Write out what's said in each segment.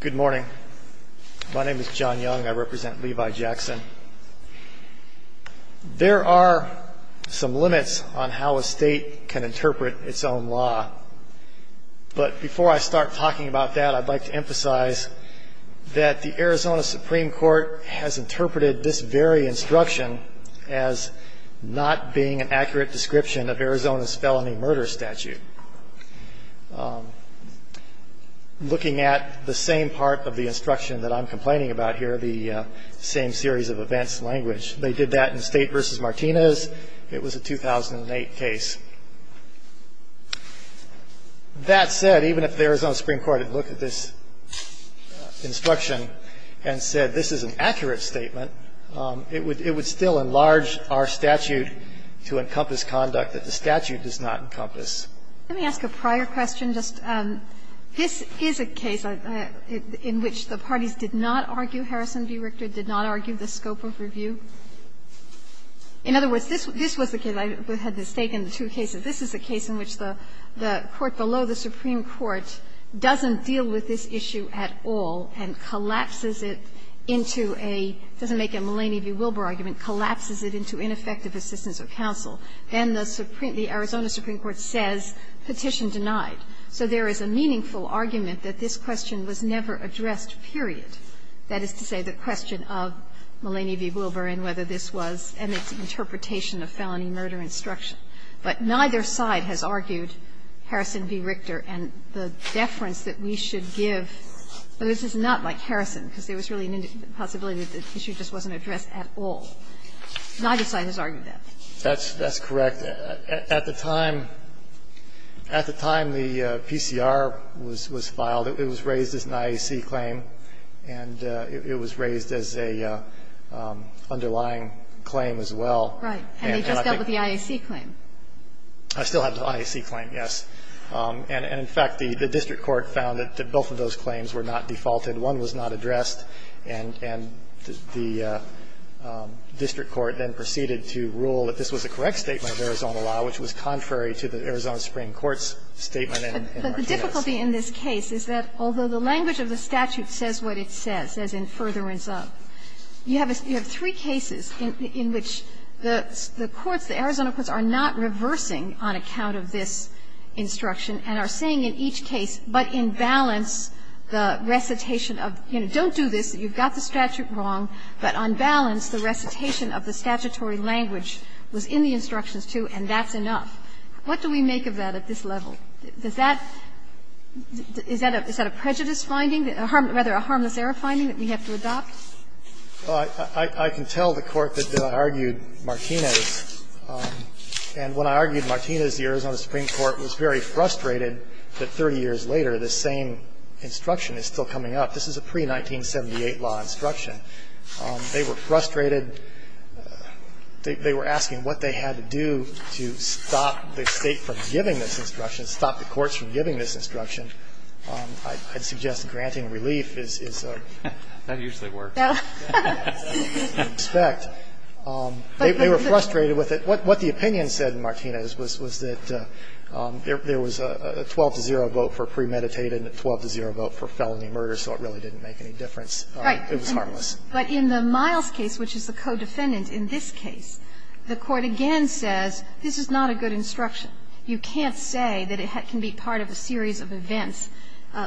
Good morning. My name is John Young. I represent Levi Jackson. There are some limits on how a state can interpret its own law. But before I start talking about that, I'd like to emphasize that the Arizona Supreme Court has interpreted this very instruction as not being an accurate description of Arizona's felony murder statute. Looking at the same part of the instruction that I'm complaining about here, the same series of events language, they did that in State v. Martinez. It was a 2008 case. That said, even if the Arizona Supreme Court had looked at this instruction and said this is an accurate statement, it would still enlarge our statute to encompass conduct that the statute does not encompass. Let me ask a prior question. This is a case in which the parties did not argue, Harrison v. Richter, did not argue the scope of review. In other words, this was the case. I had mistaken the two cases. This is a case in which the court below the Supreme Court doesn't deal with this issue at all and collapses it into a — it doesn't make a Mulaney v. Wilbur argument — collapses it into ineffective assistance of counsel. Then the Arizona Supreme Court says, Petition denied. So there is a meaningful argument that this question was never addressed, period. That is to say, the question of Mulaney v. Wilbur and whether this was Emmett's interpretation of felony murder instruction. But neither side has argued, Harrison v. Richter, and the deference that we should give — but this is not like Harrison, because there was really a possibility that the issue just wasn't addressed at all. Neither side has argued that. That's correct. At the time the PCR was filed, it was raised as an IAC claim, and it was raised as an underlying claim as well. Right. And they just dealt with the IAC claim. I still have the IAC claim, yes. And in fact, the district court found that both of those claims were not defaulted. One was not addressed, and the district court then proceeded to rule that this was a correct statement of Arizona law, which was contrary to the Arizona Supreme Court's statement in March of 2010. But the difficulty in this case is that although the language of the statute says what it says, says in furtherance of, you have three cases in which the courts, the Arizona courts, are not reversing on account of this instruction and are saying in each case, but in balance, the recitation of, you know, don't do this, you've got the statute wrong, but on balance, the recitation of the statutory language was in the instructions, too, and that's enough. What do we make of that at this level? Does that – is that a prejudice finding, rather a harmless error finding that we have to adopt? Well, I can tell the Court that I argued Martinez, and when I argued Martinez, the Arizona Supreme Court was very frustrated that 30 years later this same instruction is still coming up. This is a pre-1978 law instruction. They were frustrated. They were asking what they had to do to stop the State from giving this instruction. They were asking what they had to do to stop the courts from giving this instruction. I'd suggest granting relief is a – That usually works. No. They were frustrated with it. What the opinion said in Martinez was that there was a 12-0 vote for premeditated and a 12-0 vote for felony murder, so it really didn't make any difference. It was harmless. Right. But in the Miles case, which is the co-defendant in this case, the Court again says this is not a good instruction. You can't say that it can be part of a series of events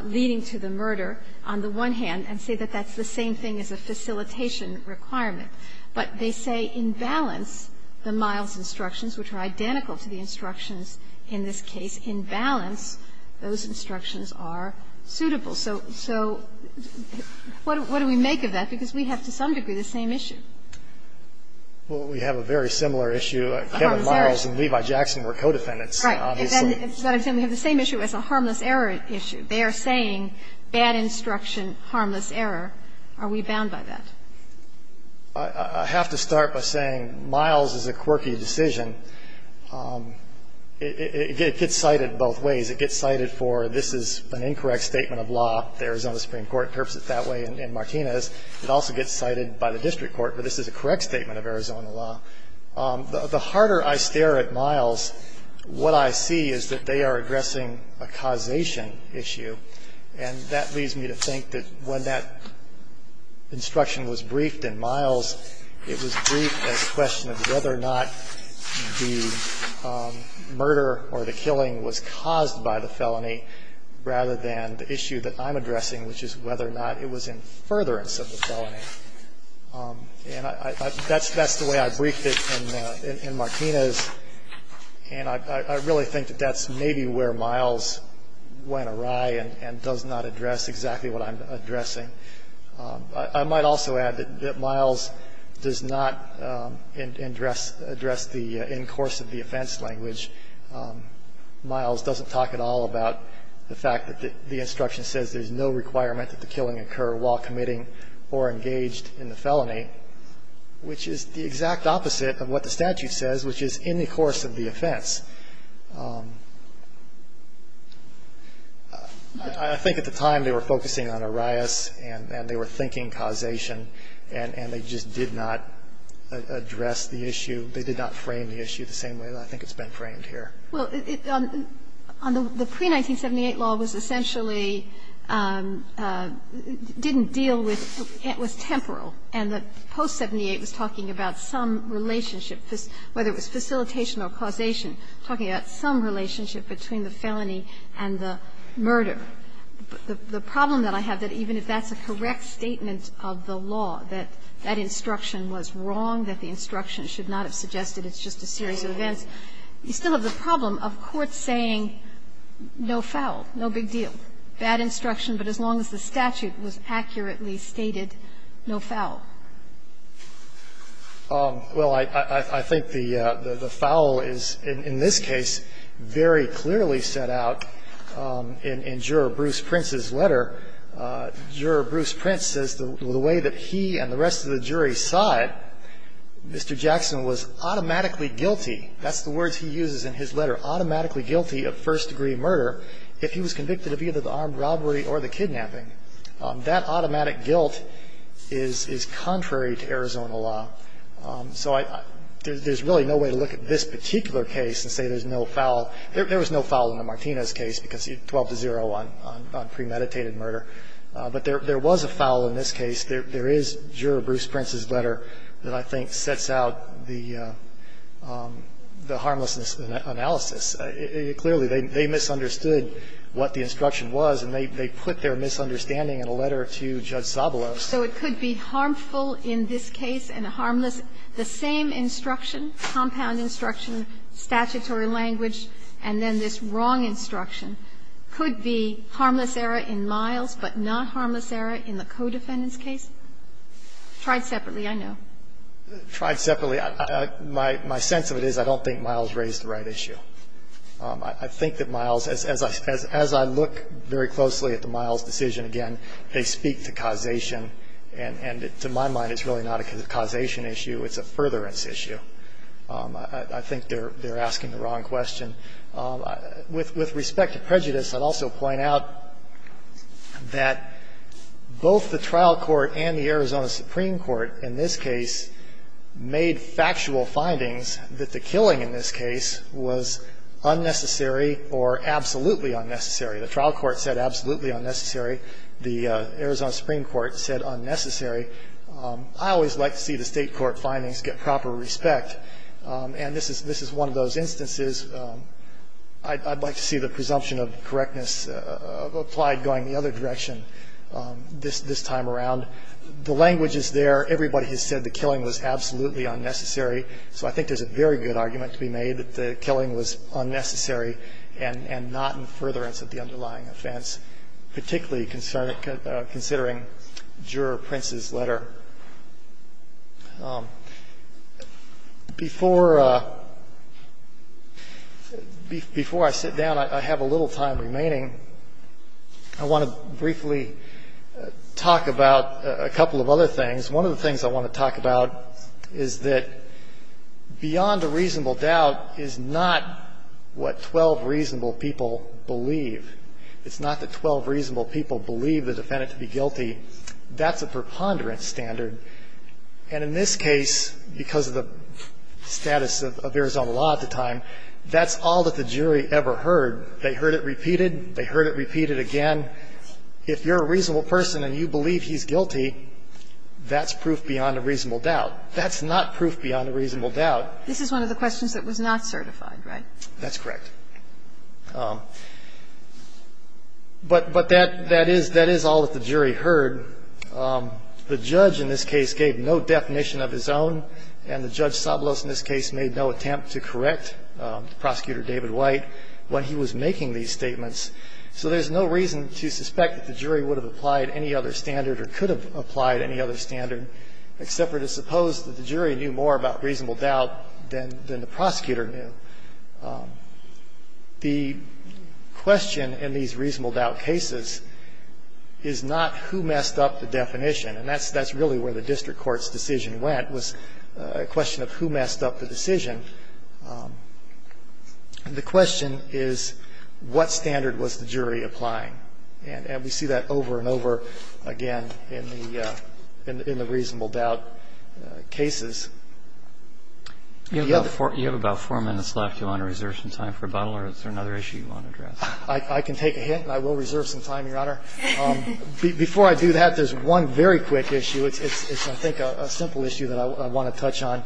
leading to the murder on the one hand and say that that's the same thing as a facilitation requirement. But they say in balance, the Miles instructions, which are identical to the instructions in this case, in balance, those instructions are suitable. So what do we make of that? Because we have to some degree the same issue. Well, we have a very similar issue. Kevin Miles and Levi Jackson were co-defendants. Right. And then we have the same issue as a harmless error issue. They are saying bad instruction, harmless error. Are we bound by that? I have to start by saying Miles is a quirky decision. It gets cited both ways. It gets cited for this is an incorrect statement of law. The Arizona Supreme Court terms it that way in Martinez. It also gets cited by the district court for this is a correct statement of Arizona law. The harder I stare at Miles, what I see is that they are addressing a causation issue. And that leads me to think that when that instruction was briefed in Miles, it was briefed as a question of whether or not the murder or the killing was caused by the felony rather than the issue that I'm addressing, which is whether or not it was in furtherance of the felony. And that's the way I briefed it in Martinez. And I really think that that's maybe where Miles went awry and does not address exactly what I'm addressing. I might also add that Miles does not address the in course of the offense language. Miles doesn't talk at all about the fact that the instruction says there's no requirement that the killing occur while committing or engaged in the felony, which is the exact opposite of what the statute says, which is in the course of the offense. I think at the time they were focusing on Arias and they were thinking causation, and they just did not address the issue. They did not frame the issue the same way that I think it's been framed here. Well, on the pre-1978 law, it was essentially didn't deal with, it was temporal. And the post-'78 was talking about some relationship, whether it was facilitation or causation, talking about some relationship between the felony and the murder. The problem that I have, that even if that's a correct statement of the law, that that instruction was wrong, that the instruction should not have suggested it's just a series of events, you still have the problem of courts saying no foul, no big deal, bad instruction, but as long as the statute was accurately stated, no foul. Well, I think the foul is, in this case, very clearly set out in Juror Bruce Prince's letter. Juror Bruce Prince says the way that he and the rest of the jury saw it, Mr. Jackson was automatically guilty, that's the words he uses in his letter, automatically guilty of first-degree murder if he was convicted of either the armed robbery or the kidnapping. That automatic guilt is contrary to Arizona law. So I, there's really no way to look at this particular case and say there's no foul. There was no foul in the Martinez case, because 12-0 on premeditated murder. But there was a foul in this case. There is Juror Bruce Prince's letter that I think sets out the harmless analysis. Clearly, they misunderstood what the instruction was, and they put their misunderstanding in a letter to Judge Zabalos. So it could be harmful in this case and harmless, the same instruction, compound instruction, statutory language, and then this wrong instruction could be harmless error in Miles, but not harmless error in the co-defendant's case. Tried separately, I know. Tried separately. My sense of it is I don't think Miles raised the right issue. I think that Miles, as I look very closely at the Miles decision again, they speak to causation, and to my mind it's really not a causation issue, it's a furtherance issue. I think they're asking the wrong question. With respect to prejudice, I'd also point out that both the trial court and the Arizona Supreme Court in this case made factual findings that the killing in this case was unnecessary or absolutely unnecessary. The trial court said absolutely unnecessary. The Arizona Supreme Court said unnecessary. I always like to see the State court findings get proper respect, and this is one of those instances I'd like to see the presumption of correctness applied going the other direction this time around. The language is there. Everybody has said the killing was absolutely unnecessary, so I think there's a very good argument to be made that the killing was unnecessary and not in furtherance of the underlying offense, particularly considering Juror Prince's letter. Before I sit down, I have a little time remaining. I want to briefly talk about a couple of other things. One of the things I want to talk about is that beyond a reasonable doubt is not what 12 reasonable people believe. It's not that 12 reasonable people believe the defendant to be guilty. That's a preponderance standard. And in this case, because of the status of Arizona law at the time, that's all that the jury ever heard. They heard it repeated. They heard it repeated again. If you're a reasonable person and you believe he's guilty, that's proof beyond a reasonable doubt. That's not proof beyond a reasonable doubt. This is one of the questions that was not certified, right? That's correct. But that is all that the jury heard. The judge in this case gave no definition of his own, and the Judge Sablos in this case made no attempt to correct Prosecutor David White when he was making these statements. So there's no reason to suspect that the jury would have applied any other standard or could have applied any other standard except for to suppose that the jury knew more about reasonable doubt than the prosecutor knew. The question in these reasonable doubt cases is not who messed up the definition. And that's really where the district court's decision went, was a question of who messed up the decision. The question is what standard was the jury applying. And we see that over and over again in the reasonable doubt cases. You have about four minutes left. Do you want to reserve some time for rebuttal, or is there another issue you want to address? I can take a hit, and I will reserve some time, Your Honor. Before I do that, there's one very quick issue. It's, I think, a simple issue that I want to touch on,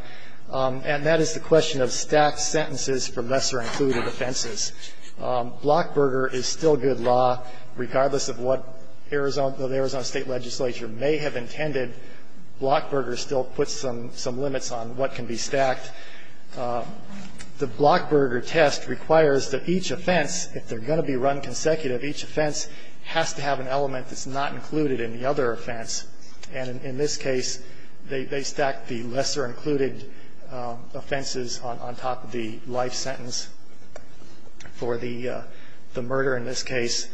and that is the question of stacked sentences for lesser-included offenses. Blockburger is still good law, regardless of what the Arizona State legislature may have intended. Blockburger still puts some limits on what can be stacked. The Blockburger test requires that each offense, if they're going to be run consecutive, each offense has to have an element that's not included in the other offense. And in this case, they stack the lesser-included offenses on top of the life sentence for the murder in this case.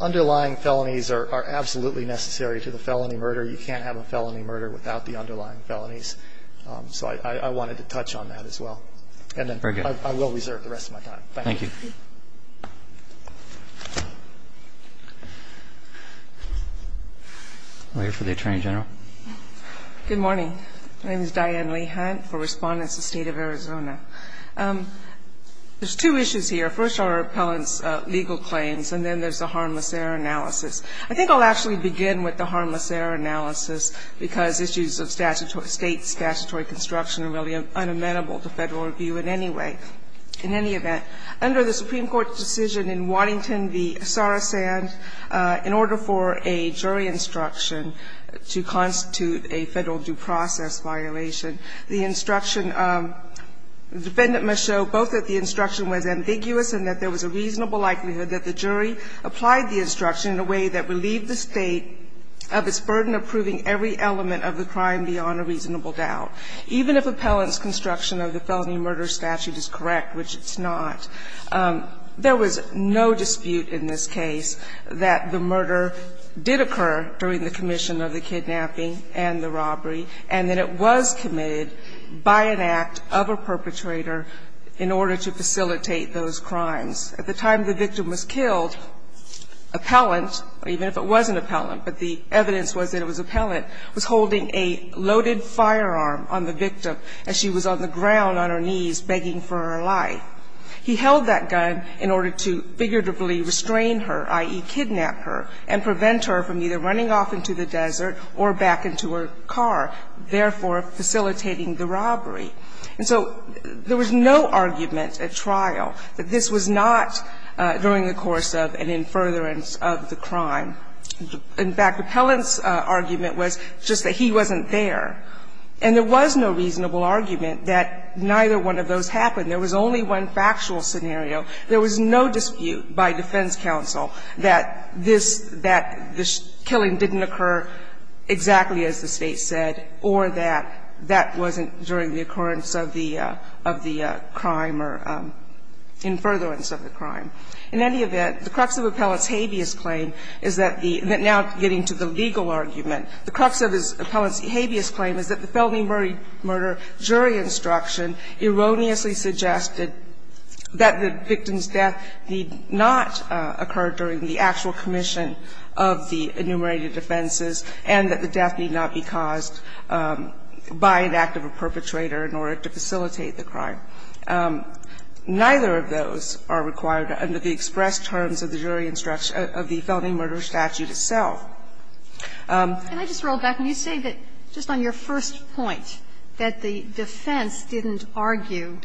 Underlying felonies are absolutely necessary to the felony murder. You can't have a felony murder without the underlying felonies. So I wanted to touch on that as well. And then I will reserve the rest of my time. Thank you. I'll wait for the Attorney General. Good morning. My name is Diane Lehan for Respondents of the State of Arizona. There's two issues here. First are our appellant's legal claims, and then there's the harmless error analysis. I think I'll actually begin with the harmless error analysis, because issues of statutory state, statutory construction are really unamendable to Federal review in any way, in any event. Under the Supreme Court's decision in Waddington v. Sarasand, in order for a jury instruction to constitute a Federal due process violation, the instruction of the defendant must show both that the instruction was ambiguous and that there was a reasonable likelihood that the jury applied the instruction in a way that relieved the State of its burden of proving every element of the crime beyond a reasonable doubt, even if appellant's construction of the felony murder statute is correct, which it's not. There was no dispute in this case that the murder did occur during the commission of the kidnapping and the robbery, and that it was committed by an act of a perpetrator in order to facilitate those crimes. At the time the victim was killed, appellant, even if it wasn't appellant, but the evidence was that it was appellant, was holding a loaded firearm on the victim as she was on the ground on her knees begging for her life. He held that gun in order to figuratively restrain her, i.e., kidnap her, and prevent her from either running off into the desert or back into her car, therefore facilitating the robbery. And so there was no argument at trial that this was not during the course of an infuriance of the crime. In fact, appellant's argument was just that he wasn't there. And there was no reasonable argument that neither one of those happened. There was only one factual scenario. There was no dispute by defense counsel that this killing didn't occur exactly as the State said or that that wasn't during the occurrence of the crime or infuriance of the crime. In any event, the crux of appellant's habeas claim is that the – now getting to the legal argument, the crux of his appellant's habeas claim is that the felony murder jury instruction erroneously suggested that the victim's death need not occur during the actual commission of the enumerated defenses and that the death need not be caused by an act of a perpetrator in order to facilitate the crime. Neither of those are required under the express terms of the jury instruction of the felony murder statute itself. And I just roll back. When you say that just on your first point, that the defense didn't argue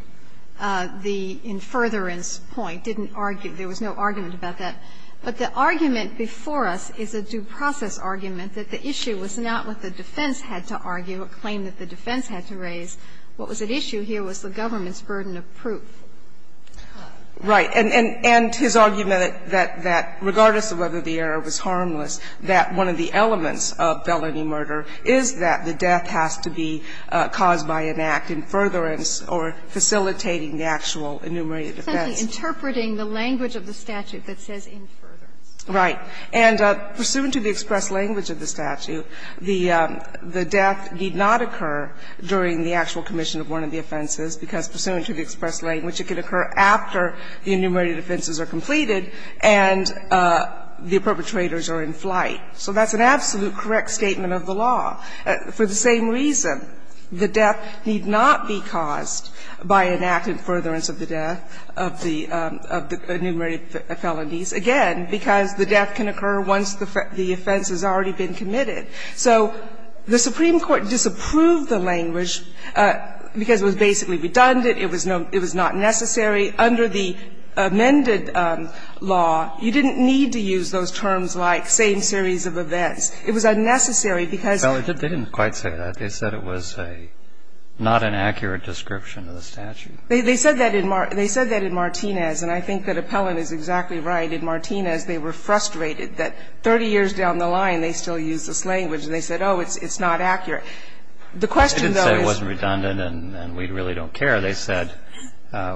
the infuriance point, didn't argue, there was no argument about that, but the argument before us is a due process argument that the issue was not what the defense had to argue, a claim that the defense had to raise. What was at issue here was the government's burden of proof. Right. And his argument that regardless of whether the error was harmless, that one of the elements of felony murder is that the death has to be caused by an act, infuriance or facilitating the actual enumerated defense. It's simply interpreting the language of the statute that says infuriance. Right. And pursuant to the express language of the statute, the death need not occur during the actual commission of one of the offenses, because pursuant to the express language, it can occur after the enumerated offenses are completed and the perpetrators are in flight. So that's an absolute correct statement of the law. For the same reason, the death need not be caused by an act in furtherance of the death of the enumerated felonies, again, because the death can occur once the offense has already been committed. So the Supreme Court disapproved the language because it was basically redundant. It was not necessary. Under the amended law, you didn't need to use those terms like same series of events. It was unnecessary because of the law. They didn't quite say that. They said it was a not an accurate description of the statute. They said that in Martinez, and I think that Appellant is exactly right. In Martinez, they were frustrated that 30 years down the line, they still use this language. And they said, oh, it's not accurate. The question, though, is that it wasn't redundant and we really don't care. They said,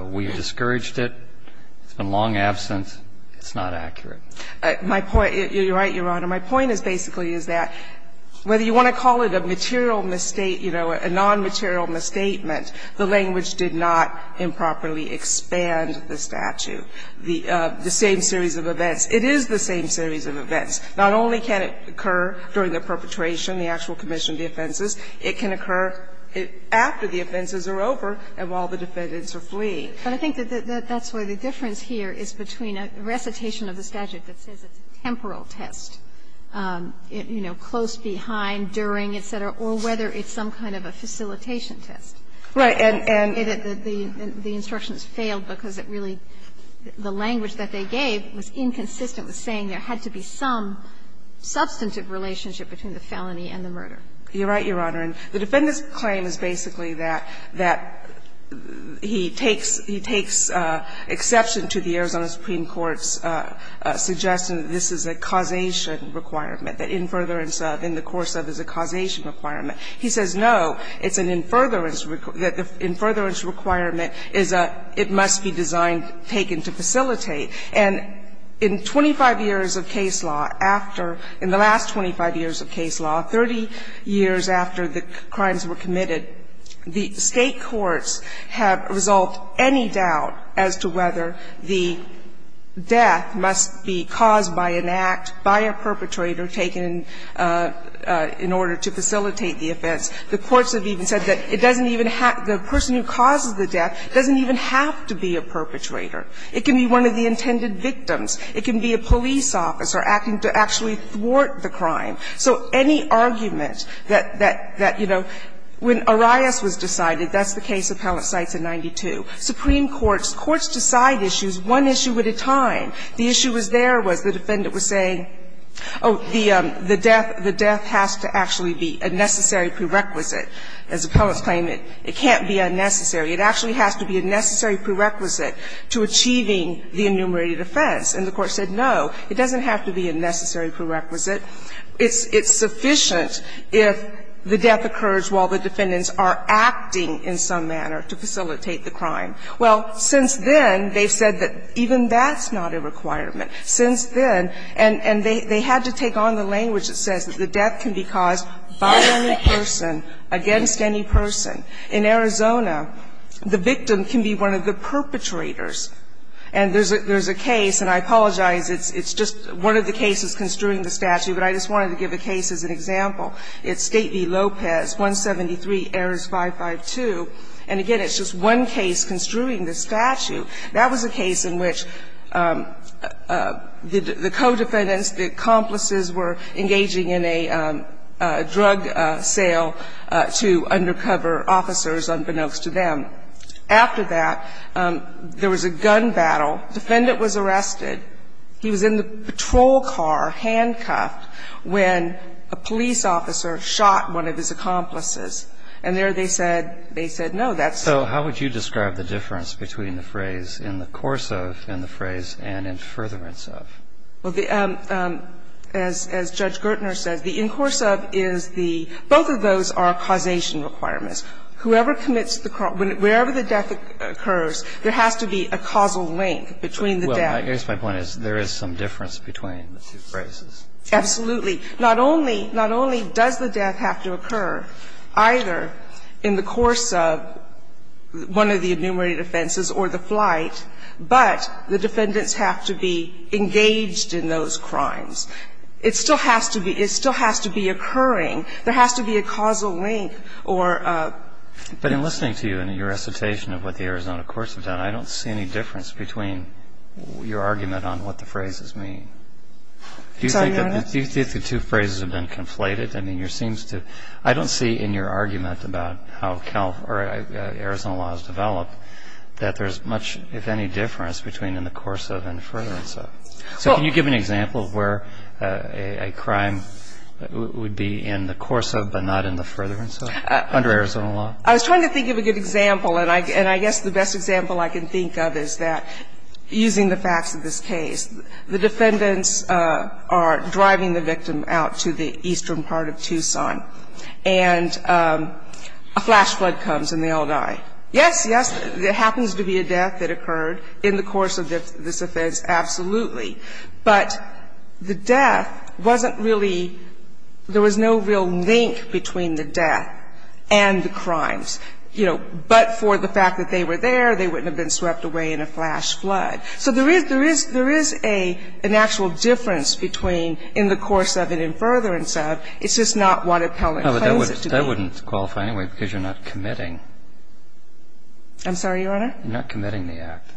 we discouraged it, it's been long absent, it's not accurate. My point, you're right, Your Honor. My point is basically is that whether you want to call it a material misstate you know, a nonmaterial misstatement, the language did not improperly expand the statute. The same series of events. It is the same series of events. Not only can it occur during the perpetration, the actual commission of the offenses, it can occur after the offenses are over and while the defendants are fleeing. But I think that's where the difference here is between a recitation of the statute that says it's a temporal test, you know, close behind, during, et cetera, or whether it's some kind of a facilitation test. Right. And the instructions failed because it really, the language that they gave was inconsistent with saying there had to be some substantive relationship between the felony and the murder. You're right, Your Honor. And the Defendant's claim is basically that, that he takes, he takes exception to the Arizona Supreme Court's suggestion that this is a causation requirement, that in furtherance of, in the course of, is a causation requirement. He says no, it's an in furtherance, that the in furtherance requirement is a, it must be designed, taken to facilitate. And in 25 years of case law, after, in the last 25 years of case law, 30 years after the crimes were committed, the State courts have resolved any doubt as to whether the death must be caused by an act, by a perpetrator taken in order to facilitate the offense. The courts have even said that it doesn't even have, the person who causes the death doesn't even have to be a perpetrator. It can be one of the intended victims. It can be a police officer acting to actually thwart the crime. So any argument that, that, that, you know, when Arias was decided, that's the case Appellant cites in 92. Supreme Court's courts decide issues one issue at a time. The issue was there was the Defendant was saying, oh, the, the death, the death has to actually be a necessary prerequisite. As Appellant's claim, it can't be unnecessary. It actually has to be a necessary prerequisite to achieving the enumerated offense. And the Court said, no, it doesn't have to be a necessary prerequisite. It's, it's sufficient if the death occurs while the Defendants are acting in some manner to facilitate the crime. Well, since then, they've said that even that's not a requirement. Since then, and, and they, they had to take on the language that says that the death can be caused by any person, against any person. In Arizona, the victim can be one of the perpetrators. And there's a, there's a case, and I apologize, it's, it's just one of the cases construing the statute, but I just wanted to give a case as an example. It's State v. Lopez, 173, Ares 552. And again, it's just one case construing the statute. That was a case in which the co-Defendants, the accomplices, were engaging in a, a drug sale to undercover officers unbeknownst to them. After that, there was a gun battle. The Defendant was arrested. He was in the patrol car, handcuffed, when a police officer shot one of his accomplices. And there they said, they said, no, that's not. But they, they, they, they said, you know, that's not, that's not the case. And so, what would you do? How would you describe the difference between the phrase ,"in the course of," and the phrase, ,"and in furtherance of"? Well, the, as, as Judge Gertner says, the ,"in course of," is the, both of those are causation requirements. Whoever commits the, wherever the death occurs, there has to be a causal link between the death. Well, I guess my point is, there is some difference between the two phrases. Absolutely. Not only, not only does the death have to occur either in the course of one of the enumerated offenses or the flight, but the defendants have to be engaged in the flight, and they have to be engaged in those crimes. It still has to be, it still has to be occurring. There has to be a causal link, or a But in listening to you and your recitation of what the Arizona courts have done, I don't see any difference between your argument on what the phrases mean. Do you think that the two phrases have been conflated? I mean, there seems to, I don't see in your argument about how Cal, or Arizona laws develop, that there's much, if any, difference between in the course of and furtherance of. So can you give an example of where a crime would be in the course of, but not in the furtherance of, under Arizona law? I was trying to think of a good example, and I guess the best example I can think of is that, using the facts of this case, the defendants are driving the victim out to the eastern part of Tucson, and a flash flood comes, and they all die. Yes, yes, there happens to be a death that occurred in the course of this offense, absolutely. But the death wasn't really, there was no real link between the death and the crimes. You know, but for the fact that they were there, they wouldn't have been swept away in a flash flood. So there is, there is, there is a, an actual difference between in the course of and in furtherance of. It's just not what appellant claims it to be. But I wouldn't qualify anyway, because you're not committing. I'm sorry, Your Honor? You're not committing the act.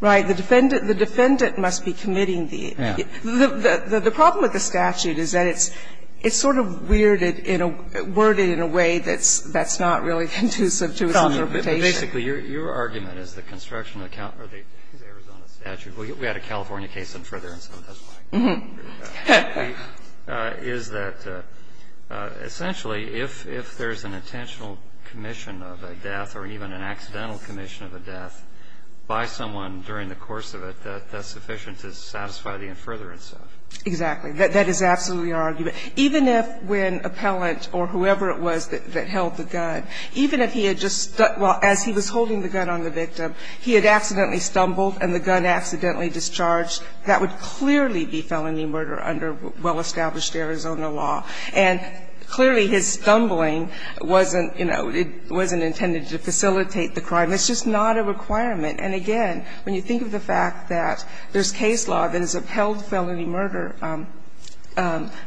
Right. The defendant, the defendant must be committing the, the, the problem with the statute is that it's, it's sort of weirded in a, worded in a way that's, that's not really conducive to its interpretation. Basically, your argument is that construction of the Arizona statute, we had a California case in furtherance, so that's why. And the other argument is that, essentially, if, if there's an intentional commission of a death or even an accidental commission of a death by someone during the course of it, that's sufficient to satisfy the in furtherance of. Exactly. That is absolutely our argument. Even if when appellant or whoever it was that held the gun, even if he had just stuck, well, as he was holding the gun on the victim, he had accidentally stumbled and the gun accidentally discharged, that would clearly be felony murder under well-established Arizona law. And clearly, his stumbling wasn't, you know, it wasn't intended to facilitate the crime. It's just not a requirement. And again, when you think of the fact that there's case law that has upheld felony murder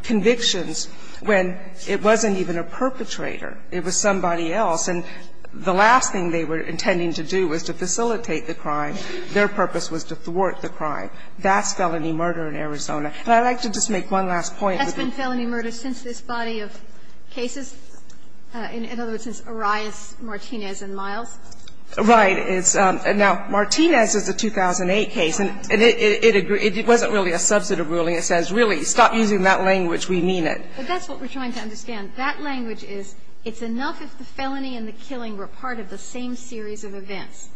convictions when it wasn't even a perpetrator, it was somebody else, and the last thing they were intending to do was to facilitate the crime. Their purpose was to thwart the crime. That's felony murder in Arizona. And I'd like to just make one last point. That's been felony murder since this body of cases? In other words, since Arias, Martinez, and Miles? Right. It's now Martinez is a 2008 case, and it wasn't really a substantive ruling. It says, really, stop using that language, we mean it. But that's what we're trying to understand. That language is, it's enough if the felony and the killing were part of the same series of events.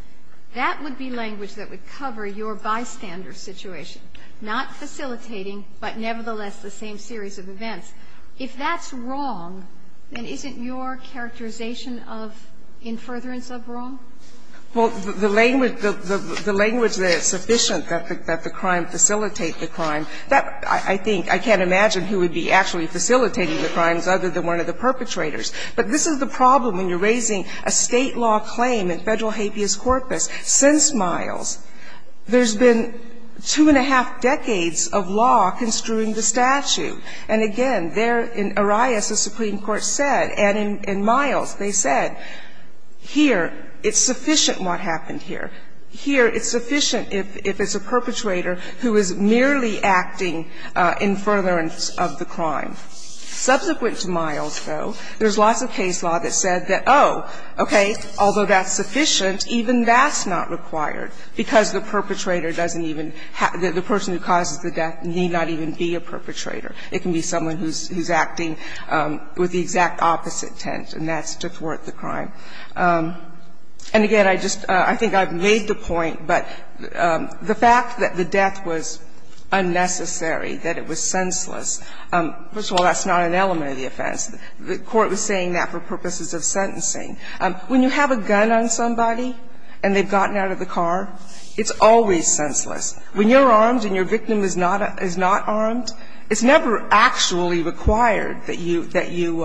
That would be language that would cover your bystander's situation, not facilitating, but nevertheless the same series of events. If that's wrong, then isn't your characterization of in furtherance of wrong? Well, the language that it's sufficient that the crime facilitate the crime, that I think, I can't imagine who would be actually facilitating the crimes other than one of the perpetrators. But this is the problem when you're raising a State law claim in Federal habeas corpus. Since Miles, there's been two and a half decades of law construing the statute. And again, there in Arias, the Supreme Court said, and in Miles, they said, here, it's sufficient what happened here. Here, it's sufficient if it's a perpetrator who is merely acting in furtherance of the crime. Subsequent to Miles, though, there's lots of case law that said that, oh, okay, although that's sufficient, even that's not required, because the perpetrator doesn't even have to be the person who causes the death, need not even be a perpetrator. It can be someone who's acting with the exact opposite intent, and that's to thwart the crime. And again, I just, I think I've made the point, but the fact that the death was unnecessary, that it was senseless, first of all, that's not an element of the offense. The Court was saying that for purposes of sentencing. When you have a gun on somebody and they've gotten out of the car, it's always senseless. When you're armed and your victim is not armed, it's never actually required that you, that you,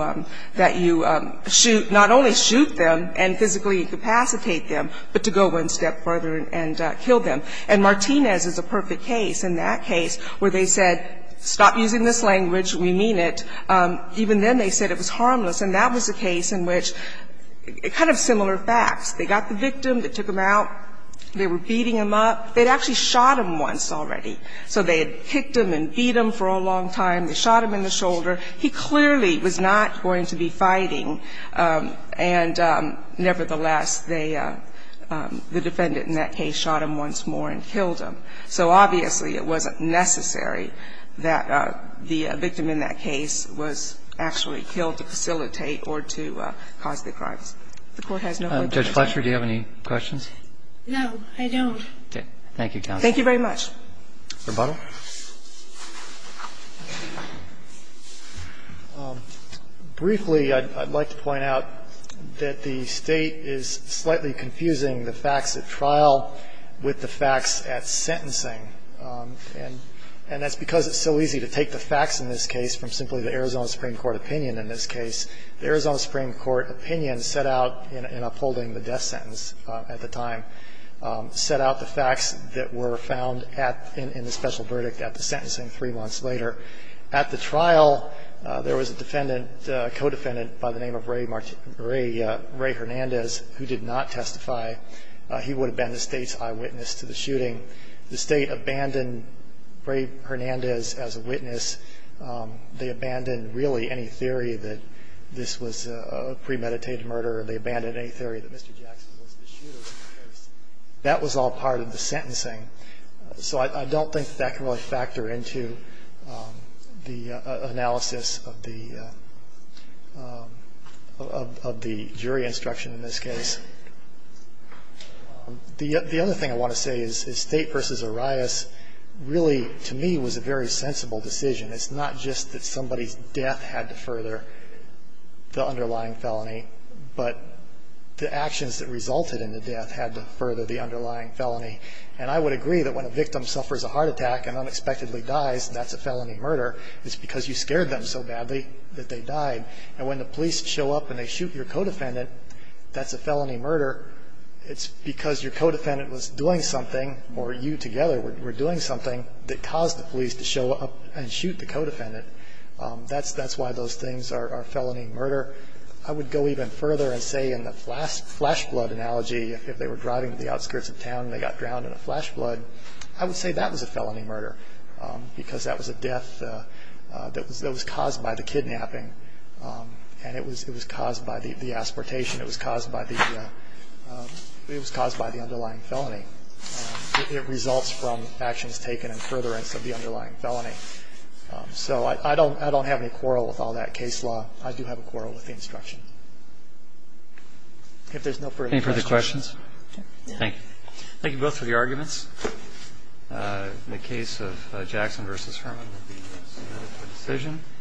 that you shoot, not only shoot them and physically incapacitate them, but to go one step further and kill them. And Martinez is a perfect case in that case, where they said, stop using this language, we mean it. Even then they said it was harmless, and that was a case in which, kind of similar facts. They got the victim, they took him out, they were beating him up. They'd actually shot him once already. So they had kicked him and beat him for a long time, they shot him in the shoulder. He clearly was not going to be fighting, and nevertheless, they, the defendant in that case, shot him once more and killed him. So obviously it wasn't necessary that the victim in that case was actually killed to facilitate or to cause the crimes. The Court has no other comment. Roberts. Do you have any questions? No, I don't. Thank you, counsel. Thank you very much. Rebuttal. Briefly, I'd like to point out that the State is slightly confusing the facts at trial with the facts at sentencing. And that's because it's so easy to take the facts in this case from simply the Arizona Supreme Court opinion in this case. The Arizona Supreme Court opinion set out in upholding the death sentence at the time, set out the facts that were found at, in the special verdict at the sentencing three months later. At the trial, there was a defendant, a co-defendant by the name of Ray Hernandez who did not testify. He would have been the State's eyewitness to the shooting. The State abandoned Ray Hernandez as a witness. They abandoned really any theory that this was a premeditated murder. They abandoned any theory that Mr. Jackson was the shooter in this case. That was all part of the sentencing. So I don't think that can really factor into the analysis of the jury instruction in this case. The other thing I want to say is State versus Arias really to me was a very sensible decision. It's not just that somebody's death had to further the underlying felony, but the actions that resulted in the death had to further the underlying felony. And I would agree that when a victim suffers a heart attack and unexpectedly dies, that's a felony murder. It's because you scared them so badly that they died. And when the police show up and they shoot your co-defendant, that's a felony murder. It's because your co-defendant was doing something, or you together were doing something, that caused the police to show up and shoot the co-defendant. That's why those things are felony murder. I would go even further and say in the flash flood analogy, if they were driving to the outskirts of town and they got drowned in a flash flood, I would say that was a felony murder because that was a death that was caused by the kidnapping, and it was caused by the asportation. It was caused by the underlying felony. It results from actions taken in furtherance of the underlying felony. So I don't have any quarrel with all that case law. I do have a quarrel with the instruction. If there's no further questions. Any further questions? Thank you. Thank you both for the arguments in the case of Jackson v. Herman.